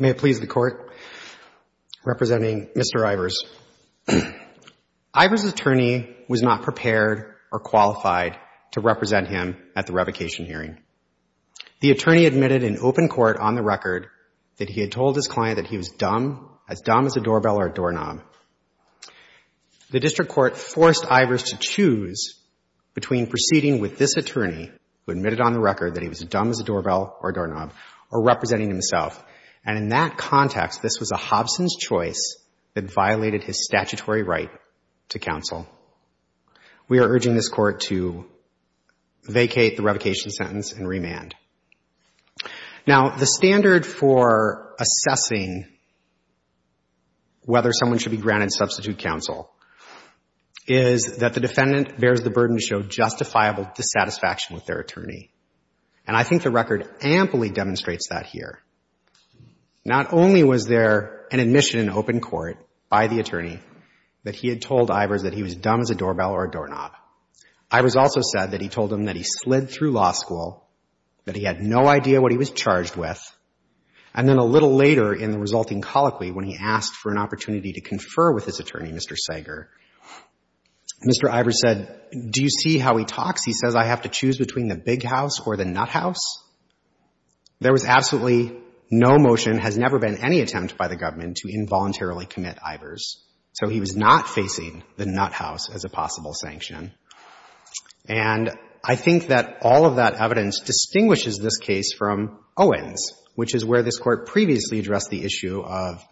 May it please the Court, representing Mr. Ivers. Ivers' attorney was not prepared or qualified to represent him at the revocation hearing. The attorney admitted in open court on the record that he had told his client that he was as dumb as a doorbell or a doorknob. The district court forced Ivers to choose between proceeding with this attorney, who admitted on the record that he was dumb as a doorbell or a doorknob, or representing himself. And in that context, this was a Hobson's choice that violated his statutory right to counsel. We are urging this Court to vacate the revocation sentence and remand. Now, the standard for assessing whether someone should be granted substitute counsel is that the defendant bears the burden to show justifiable dissatisfaction with their attorney. And I think the record amply demonstrates that here. Not only was there an admission in open court by the attorney that he had told Ivers that he was dumb as a doorbell or a doorknob, Ivers also said that he told him that he slid through law school, that he had no idea what he was charged with. And then a little later in the resulting colloquy, when he asked for an opportunity to confer with his attorney, Mr. Sager, Mr. Ivers said, do you see how he talks? He says, I have to choose between the big house or the nut house. There was absolutely no motion, has never been any attempt by the government to involuntarily commit Ivers. So he was not facing the nut house as a possible sanction. And I think that all of that evidence distinguishes this case from Owens, which is where this Court previously addressed the issue of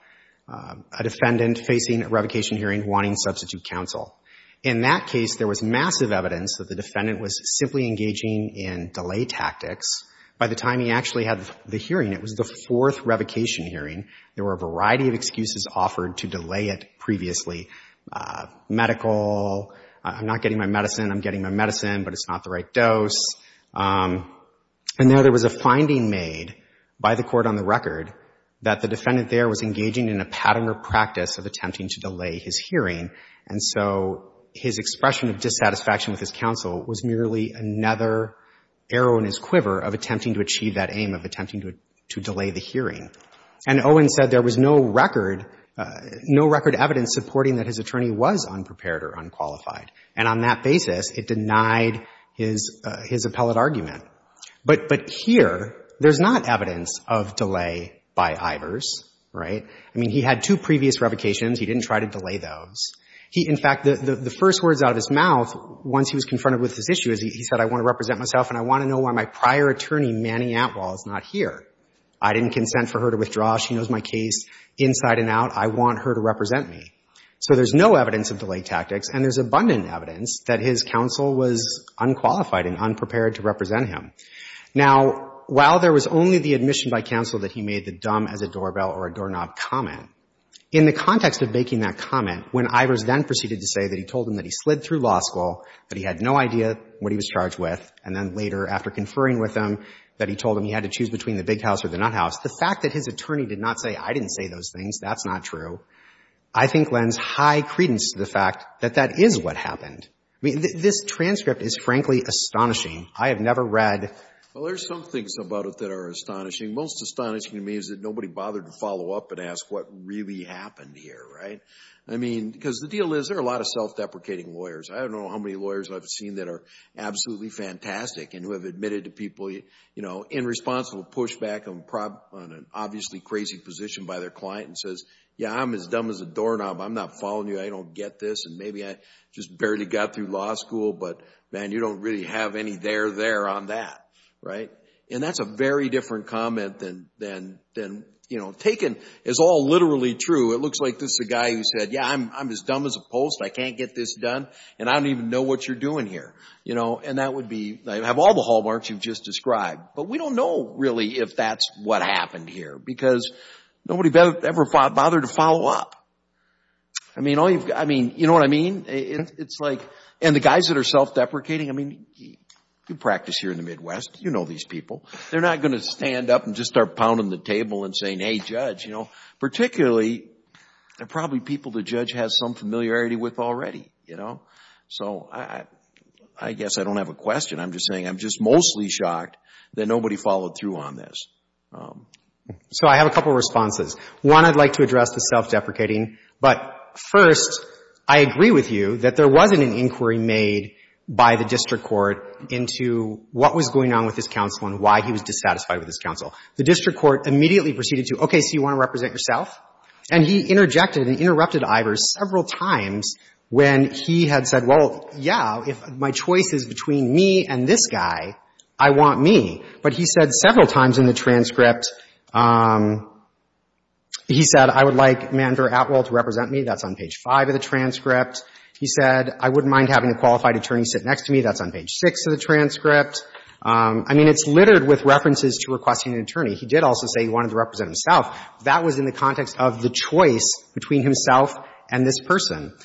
a defendant facing a revocation hearing wanting substitute counsel. In that case, there was massive evidence that the defendant was simply engaging in delay tactics. By the time he actually had the hearing, it was the fourth revocation hearing, there were a variety of excuses offered to delay it previously. Medical, I'm not getting my medicine, I'm getting my medicine, but it's not the right dose. And there, there was a finding made by the Court on the record that the defendant there was engaging in a pattern or practice of attempting to delay his hearing. And so his expression of dissatisfaction with his counsel was merely another arrow in his quiver of attempting to achieve that aim, of attempting to delay the hearing. And Owens said there was no record, no record evidence supporting that his attorney was unprepared or unqualified. And on that basis, it denied his appellate argument. But here, there's not evidence of delay by Ivers, right? I mean, he had two previous revocations. He didn't try to delay those. He, in fact, the first words out of his mouth once he was confronted with this issue is he said, I want to represent myself and I want to know why my prior attorney, Manny Atwell, is not here. I didn't consent for her to withdraw. She knows my case inside and out. I want her to represent me. So there's no evidence of delay tactics, and there's abundant evidence that his counsel was unqualified and unprepared to represent him. Now, while there was only the admission by counsel that he made the dumb as a doorbell or a doorknob comment, in the context of making that comment, when Ivers then proceeded to say that he told him that he slid through law school, that he had no idea what he was charged with, and then later, after conferring with him, that he told him he had to choose between the big house or the nut house, the fact that his attorney did not say, I didn't say those things, that's not true, I think lends high credence to the fact that that is what happened. I mean, this transcript is, frankly, astonishing. I have never read — Well, there's some things about it that are astonishing. Most astonishing to me is that nobody bothered to follow up and ask what really happened here, right? I mean, because the deal is, there are a lot of self-deprecating lawyers. I don't know how many lawyers I've seen that are absolutely fantastic and who have admitted to people, you know, irresponsible pushback on an obviously crazy position by their client and says, yeah, I'm as dumb as a doorknob, I'm not following you, I don't get this, and maybe I just barely got through law school, but, man, you don't really have any there there on that, right? And that's a very different comment than, you know, taken as all literally true. It is, I'm as dumb as a post, I can't get this done, and I don't even know what you're doing here, you know, and that would be — I have all the hallmarks you've just described, but we don't know, really, if that's what happened here because nobody ever bothered to follow up. I mean, you know what I mean? It's like — and the guys that are self-deprecating, I mean, you practice here in the Midwest, you know these people. They're not going to stand up and just start pounding the table and saying, hey, judge, you know, particularly — there are probably people the judge has some familiarity with already, you know? So I guess I don't have a question. I'm just saying I'm just mostly shocked that nobody followed through on this. So I have a couple of responses. One, I'd like to address the self-deprecating. But first, I agree with you that there wasn't an inquiry made by the district court into what was going on with his counsel and why he was dissatisfied with his counsel. The And he interjected and interrupted Ivers several times when he had said, well, yeah, if my choice is between me and this guy, I want me. But he said several times in the transcript, he said, I would like Manver Atwell to represent me. That's on page five of the transcript. He said, I wouldn't mind having a qualified attorney sit next to me. That's on page six of the transcript. I mean, it's littered with references to requesting an attorney. He did also say he wanted to represent himself. That was in the context of the choice between himself and this person.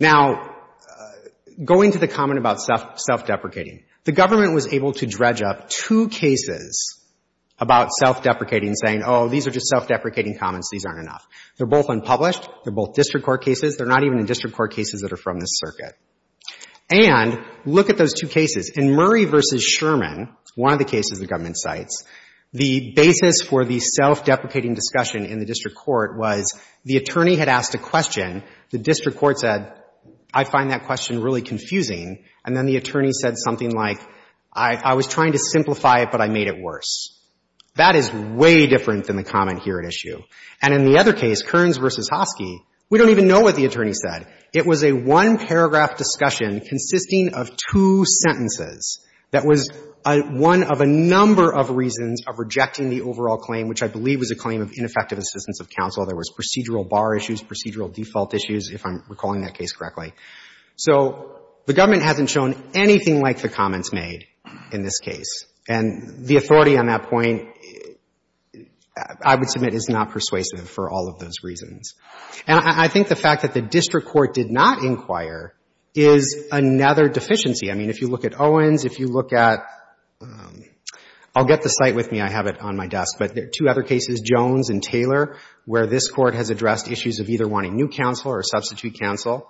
Now, going to the comment about self-deprecating, the government was able to dredge up two cases about self-deprecating saying, oh, these are just self-deprecating comments. These aren't enough. They're both unpublished. They're both district court cases. They're not even in district court cases that are from this circuit. And look at those two cases. In Murray v. Sherman, one of the cases the government cites, the basis for the self-deprecating discussion in the district court was the attorney had asked a question. The district court said, I find that question really confusing. And then the attorney said something like, I was trying to simplify it, but I made it worse. That is way different than the comment here at issue. And in the other case, Kearns v. Hoskey, we don't even know what the attorney said. It was a one-paragraph discussion consisting of two sentences that was one of a number of reasons of rejecting the overall claim, which I believe was a claim of ineffective assistance of counsel. There was procedural bar issues, procedural default issues, if I'm recalling that case correctly. So the government hasn't shown anything like the comments made in this case. And the authority on that point, I would submit, is not persuasive for all of those reasons. And I think the fact that the district court did not inquire is another deficiency. I mean, if you look at Owens, if you look at — I'll get the site with me. I have it on my desk. But there are two other cases, Jones and Taylor, where this Court has addressed issues of either wanting new counsel or substitute counsel.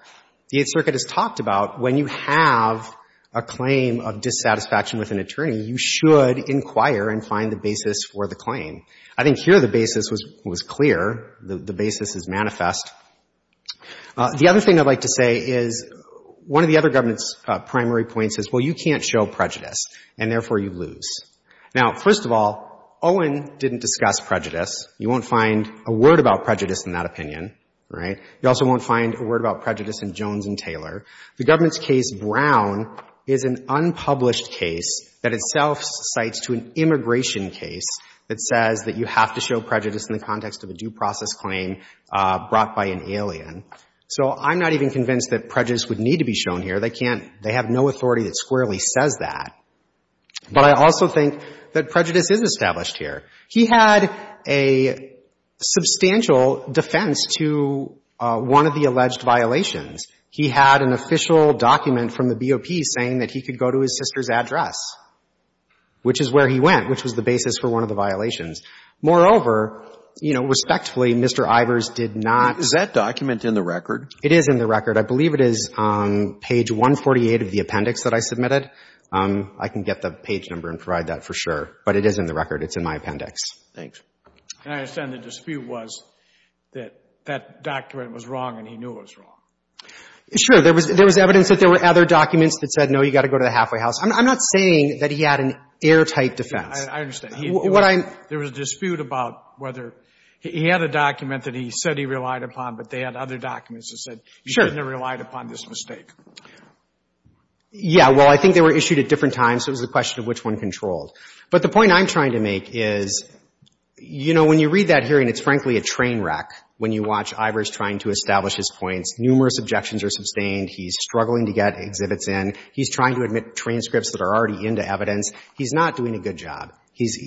The Eighth Circuit has talked about when you have a claim of dissatisfaction with an attorney, you should inquire and find the basis for the claim. I think here the basis was clear. The basis is manifest. The other thing I'd like to say is one of the other government's primary points is, well, you can't show prejudice, and therefore you lose. Now, first of all, Owen didn't discuss prejudice. You won't find a word about prejudice in that opinion, right? You also won't find a word about prejudice in Jones and Taylor. The government's case, Brown, is an unpublished case that itself cites to an immigration case that says that you have to show prejudice in the context of a due process claim brought by an alien. So I'm not even convinced that prejudice would need to be shown here. They can't — they have no authority that squarely says that. But I also think that prejudice is established here. He had a substantial defense to one of the alleged violations. He had an official document from the BOP saying that he could go to his sister's address, which is where he went, which was the basis for one of the Was that document in the record? It is in the record. I believe it is on page 148 of the appendix that I submitted. I can get the page number and provide that for sure. But it is in the record. It's in my appendix. Thanks. And I understand the dispute was that that document was wrong and he knew it was wrong. Sure. There was evidence that there were other documents that said, no, you've got to go to the halfway house. I'm not saying that he had an airtight defense. I understand. There was a dispute about whether — he had a document that he said he relied upon, but they had other documents that said he didn't have relied upon this mistake. Yeah. Well, I think they were issued at different times, so it was a question of which one controlled. But the point I'm trying to make is, you know, when you read that hearing, it's frankly a train wreck when you watch Ivers trying to establish his points. Numerous objections are sustained. He's struggling to get exhibits in. He's trying to admit transcripts that are already into evidence. He's not doing a good job. He's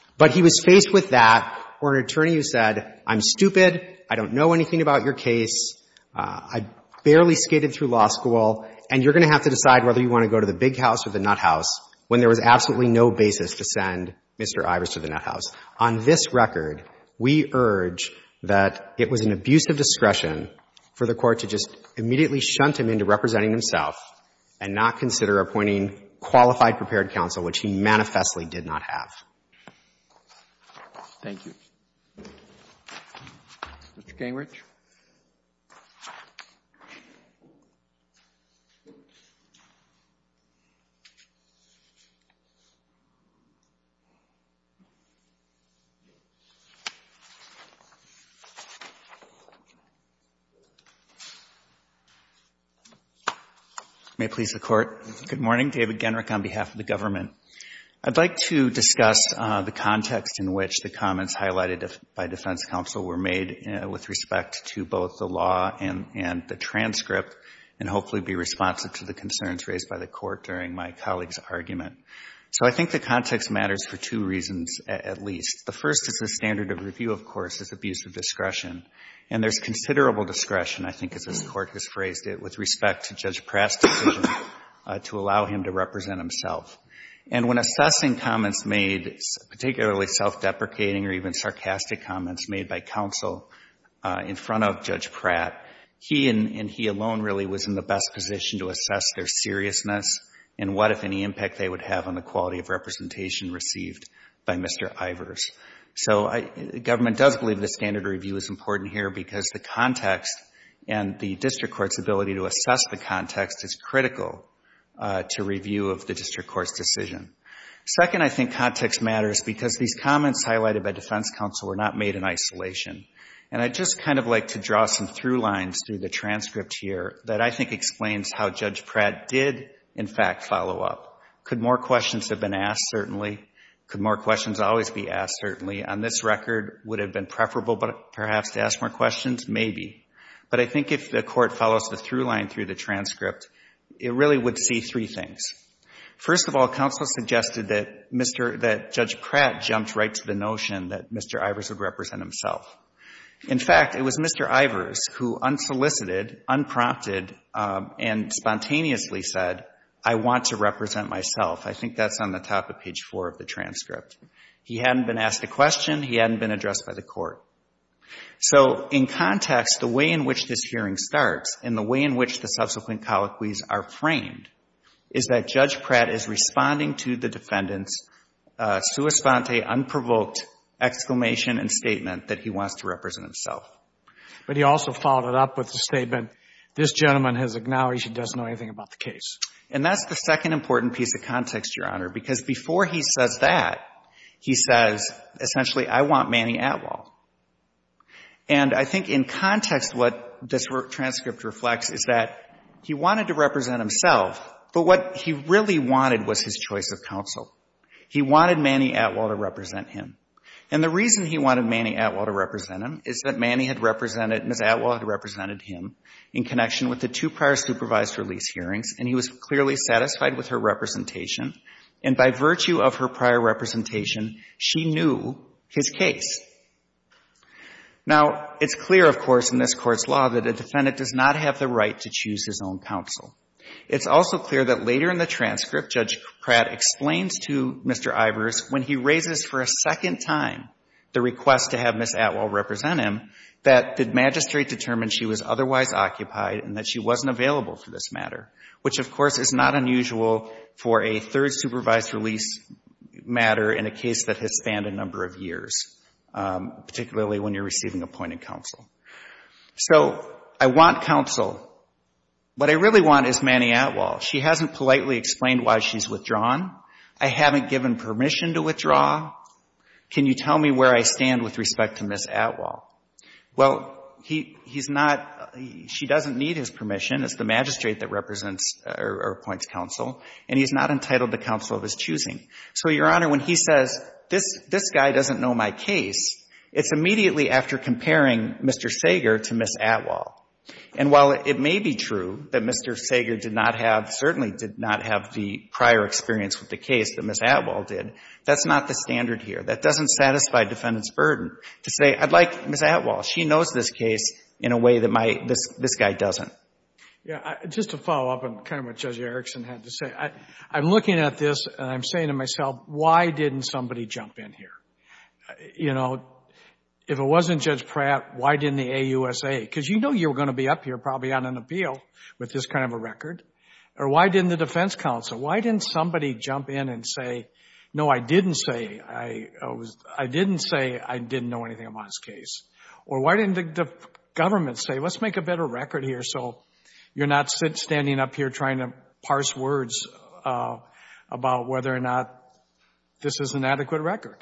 — but he was faced with that, or an attorney who said, I'm stupid, I don't know anything about your case, I barely skated through law school, and you're going to have to decide whether you want to go to the big house or the nut house, when there was absolutely no basis to send Mr. Ivers to the nut house. On this record, we urge that it was an abuse of discretion for the Court to just immediately shunt him into representing himself and not consider appointing qualified prepared counsel, which he manifestly did not have. Mr. Gingrich. May it please the Court. Good morning. David Gingrich on behalf of the government. I'd like to discuss the context in which the comments highlighted by defense counsel were made with respect to both the law and the transcript, and hopefully be responsive to the concerns raised by the Court during my colleague's argument. So I think the context matters for two reasons, at least. The first is the standard of review, of course, is abuse of discretion. And there's considerable discretion, I think, as this Court has phrased it, with respect to Judge Pratt's decision to allow him to represent himself. And when assessing comments made, particularly self-deprecating or even sarcastic comments made by counsel in front of Judge Pratt, he and he alone really was in the best position to assess their seriousness and what, if any, impact they would have on the quality of representation received by Mr. Ivers. So the government does believe the standard of review is important here because the context and the district court's ability to assess the context is critical to review of the district court's decision. Second, I think context matters because these comments highlighted by defense counsel were not made in isolation. And I'd just kind of like to draw some through lines through the transcript here that I think explains how Judge Pratt did, in fact, follow up. Could more questions have been asked? Certainly. Could more questions always be asked? Certainly. On this record, would it have been preferable, perhaps, to ask more questions? Maybe. But I think if the Court follows the through line through the transcript, it really would see three things. First of all, counsel suggested that Judge Pratt jumped right to the notion that Mr. Ivers would represent himself. In fact, it was Mr. Ivers who unsolicited, unprompted, and spontaneously said, I want to represent myself. I think that's on the top of page four of the transcript. He hadn't been asked a question. He hadn't been addressed by the Court. So in context, the way in which this hearing starts and the way in which the subsequent defendants, sua sponte, unprovoked, exclamation, and statement that he wants to represent himself. But he also followed it up with the statement, this gentleman has acknowledged he doesn't know anything about the case. And that's the second important piece of context, Your Honor, because before he says that, he says, essentially, I want Manny Atwell. And I think in context what this transcript reflects is that he wanted to represent himself, but what he really wanted was his choice of counsel. He wanted Manny Atwell to represent him. And the reason he wanted Manny Atwell to represent him is that Manny had represented, Ms. Atwell had represented him in connection with the two prior supervised release hearings, and he was clearly satisfied with her representation. And by virtue of her prior representation, she knew his case. Now it's clear, of course, in this Court's law that a defendant does not have the right to choose his own counsel. It's also clear that later in the transcript, Judge Pratt explains to Mr. Ivers, when he raises for a second time the request to have Ms. Atwell represent him, that the magistrate determined she was otherwise occupied and that she wasn't available for this matter, which, of course, is not unusual for a third supervised release matter in a case that has spanned a number of years, particularly when you're receiving appointed counsel. So I want counsel. What I really want is Manny Atwell. She hasn't politely explained why she's withdrawn. I haven't given permission to withdraw. Can you tell me where I stand with respect to Ms. Atwell? Well, he's not — she doesn't need his permission. It's the magistrate that represents or appoints counsel, and he's not entitled to counsel of his choosing. So, Your Honor, when he says, this guy doesn't know my case, it's immediately after comparing Mr. Sager to Ms. Atwell. And while it may be true that Mr. Sager did not have — certainly did not have the prior experience with the case that Ms. Atwell did, that's not the standard here. That doesn't satisfy defendant's burden to say, I'd like Ms. Atwell. She knows this case in a way that my — this guy doesn't. Yeah. Just to follow up on kind of what Judge Erickson had to say, I'm looking at this and I'm saying to myself, why didn't somebody jump in here? You know, if it wasn't Judge Pratt, why didn't the AUSA? Because you know you were going to be up here probably on an appeal with this kind of a record. Or why didn't the defense counsel? Why didn't somebody jump in and say, no, I didn't say — I didn't say I didn't know anything about his case? Or why didn't the government say, let's make a better record here so you're not standing up here trying to parse words about whether or not this is an adequate record?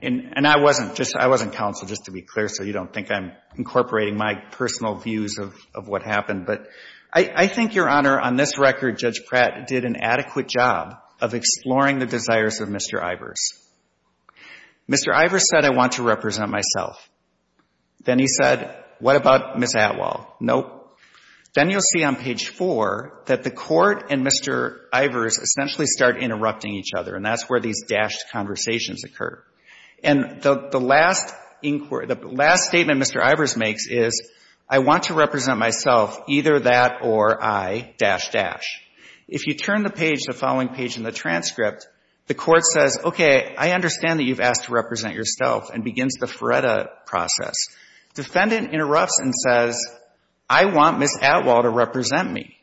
And I wasn't just — I wasn't counsel, just to be clear, so you don't think I'm incorporating my personal views of what happened. But I think, Your Honor, on this record, Judge Pratt did an adequate job of exploring the desires of Mr. Ivers. Mr. Ivers said, I want to represent myself. Then he said, what about Ms. Atwell? Nope. Then you'll see on page 4 that the court and Mr. Ivers essentially start interrupting each other, and that's where these dashed conversations occur. And the last — the last statement Mr. Ivers makes is, I want to represent myself, either that or I, dash, dash. If you turn the page, the following page in the transcript, the court says, okay, I understand that you've asked to represent yourself, and begins the Feretta process. Defendant interrupts and says, I want Ms. Atwell to represent me.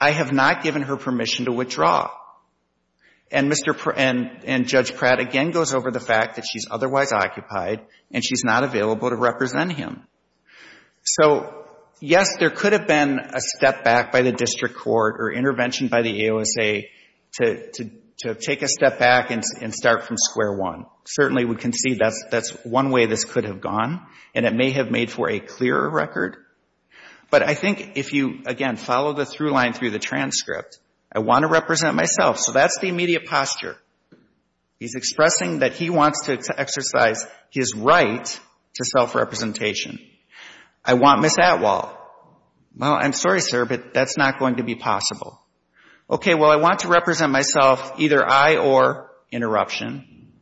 I have not given her permission to withdraw. And Mr. — and Judge Pratt again goes over the fact that she's otherwise occupied, and she's not available to represent him. So yes, there could have been a step back by the district court or intervention by the AOSA to take a step back and start from square one. Certainly, we can see that's one way this could have gone, and it may have made for a clearer record. But I think if you, again, follow the through line through the transcript, I want to represent myself. So that's the immediate posture. He's expressing that he wants to exercise his right to self-representation. I want Ms. Atwell. Well, I'm sorry, sir, but that's not going to be possible. Okay, well, I want to represent myself, either I or interruption.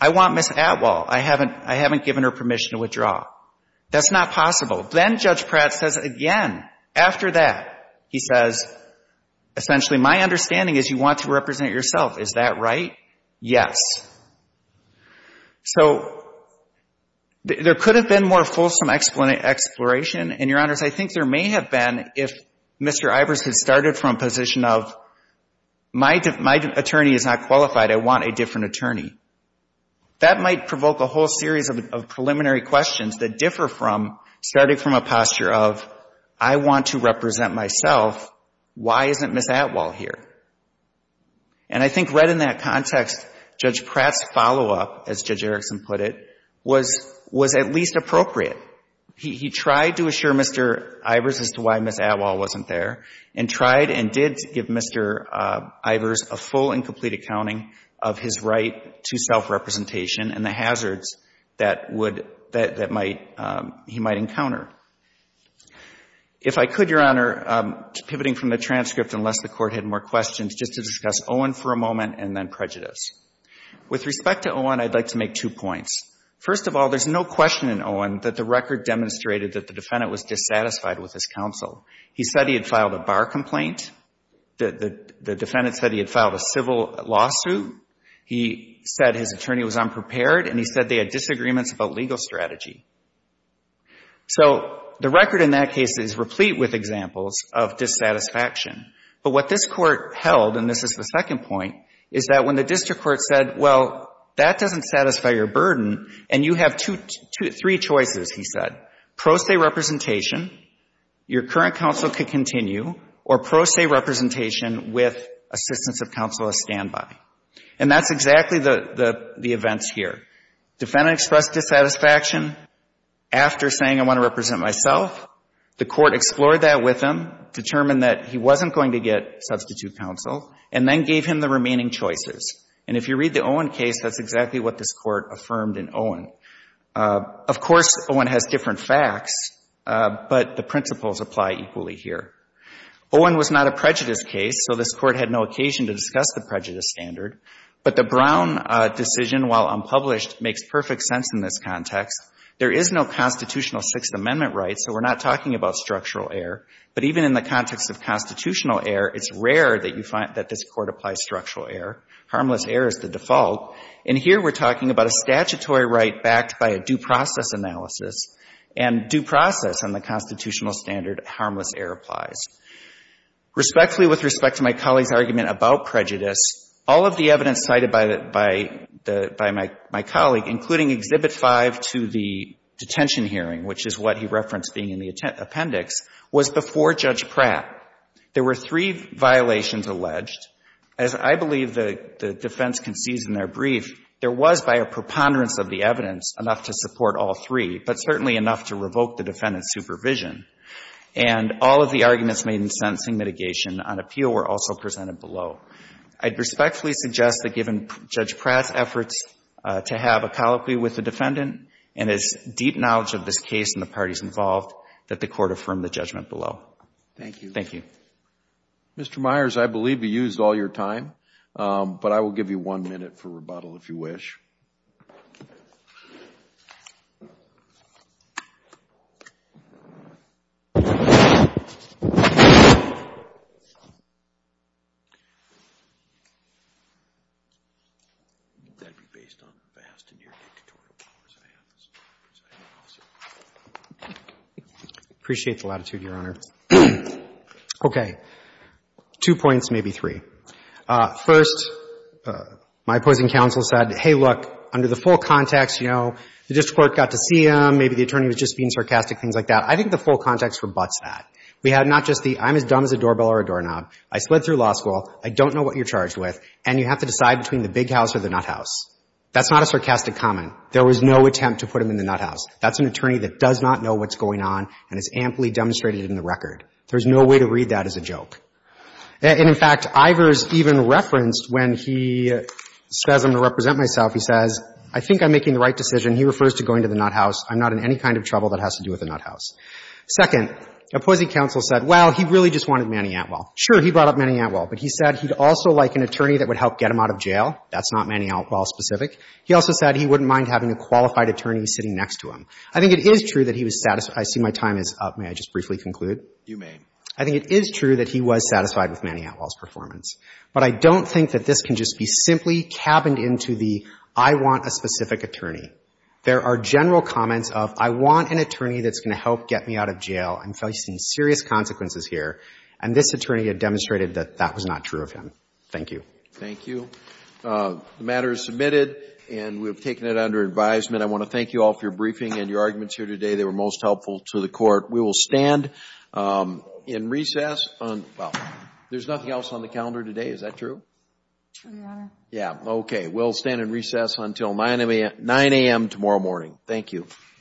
I want Ms. Atwell. I haven't given her permission to withdraw. That's not possible. Then Judge Pratt says again, after that, he says, essentially, my understanding is you want to represent yourself. Is that right? Yes. So there could have been more fulsome exploration, and, Your Honors, I think there may have been if Mr. Ivers had started from a position of my attorney is not qualified, I want a different attorney. That might provoke a whole series of preliminary questions that differ from starting from a posture of I want to represent myself. Why isn't Ms. Atwell here? And I think right in that context, Judge Pratt's follow-up, as Judge Erickson put it, was at least appropriate. He tried to assure Mr. Ivers as to why Ms. Atwell wasn't there, and tried and did give Mr. Ivers a full and complete set of records that would — that might — he might encounter. If I could, Your Honor, pivoting from the transcript, unless the Court had more questions, just to discuss Owen for a moment, and then prejudice. With respect to Owen, I'd like to make two points. First of all, there's no question in Owen that the record demonstrated that the defendant was dissatisfied with his counsel. He said he had filed a bar complaint. The defendant said he had filed a civil lawsuit. He said his attorney was unprepared, and he said they had disagreements about legal strategy. So the record in that case is replete with examples of dissatisfaction. But what this Court held, and this is the second point, is that when the district court said, well, that doesn't satisfy your burden, and you have two — three choices, he said, pro se representation, your current counsel could continue, or pro se representation with assistance of counsel as standby. And that's exactly the — the events here. Defendant expressed dissatisfaction after saying, I want to represent myself. The Court explored that with him, determined that he wasn't going to get substitute counsel, and then gave him the remaining choices. And if you read the Owen case, that's exactly what this Court affirmed in Owen. Of course, Owen has different facts, but the principles apply equally here. Owen was not a prejudice case, so this Court had no occasion to discuss the prejudice standard. But the Brown decision, while unpublished, makes perfect sense in this context. There is no constitutional Sixth Amendment right, so we're not talking about structural error. But even in the context of constitutional error, it's rare that you find — that this Court applies structural error. Harmless error is the default. And here we're talking about a statutory right backed by a due process analysis. And due process on the constitutional standard, harmless error applies. Respectfully, with respect to my colleague's argument about prejudice, all of the evidence cited by the — by the — by my colleague, including Exhibit 5 to the detention hearing, which is what he referenced being in the appendix, was before Judge Pratt. There were three violations alleged. As I believe the defense concedes in their brief, there was, by a preponderance of the evidence, enough to support all three, but certainly enough to revoke the defendant's supervision. And all of the arguments made in sentencing mitigation on appeal were also presented below. I'd respectfully suggest that given Judge Pratt's efforts to have a colloquy with the defendant and his deep knowledge of this case and the parties involved, that the Court affirm the judgment below. Thank you. Thank you. Mr. Myers, I believe you used all your time, but I will give you one minute for rebuttal if you wish. That would be based on the vast and near-dictatorial powers I have, so I have no objection. I appreciate the latitude, Your Honor. Okay. Two points, maybe three. First, my opposing counsel said, hey, look, under the full context, you know, the district court got to see him, maybe the attorney was just being sarcastic, things like that. I think the full context rebutts that. We have not just the, I'm as dumb as a doorbell or a doorknob, I slid through law school, I don't know what you're charged with, and you have to decide between the big house or the nuthouse. That's not a sarcastic comment. There was no attempt to put him in the nuthouse. That's an attorney that does not know what's going on and has amply demonstrated it in the record. There's no way to read that as a joke. And, in fact, Ivers even referenced when he says I'm going to represent myself, he says, I think I'm making the right decision. He refers to going to the nuthouse. I'm not in any kind of trouble that has to do with the nuthouse. Second, opposing counsel said, well, he really just wanted Manny Atwell. Sure, he brought up Manny Atwell, but he said he'd also like an attorney that would help get him out of jail. That's not Manny Atwell specific. He also said he wouldn't mind having a qualified attorney sitting next to him. I think it is true that he was satisfied. I see my time is up. May I just briefly conclude? You may. I think it is true that he was satisfied with Manny Atwell's performance, but I don't think that this can just be simply cabined into the I want a specific attorney. There are general comments of I want an attorney that's going to help get me out of jail. I'm facing serious consequences here, and this attorney had demonstrated that that was not true of him. Thank you. Thank you. The matter is submitted, and we have taken it under advisement. I want to thank you all for your briefing and your arguments here today. They were most helpful to the Court. We will stand in recess on – well, there's nothing else on the calendar today. Is that true? Your Honor. Yeah. Okay. We'll stand in recess until 9 a.m. tomorrow morning. Thank you.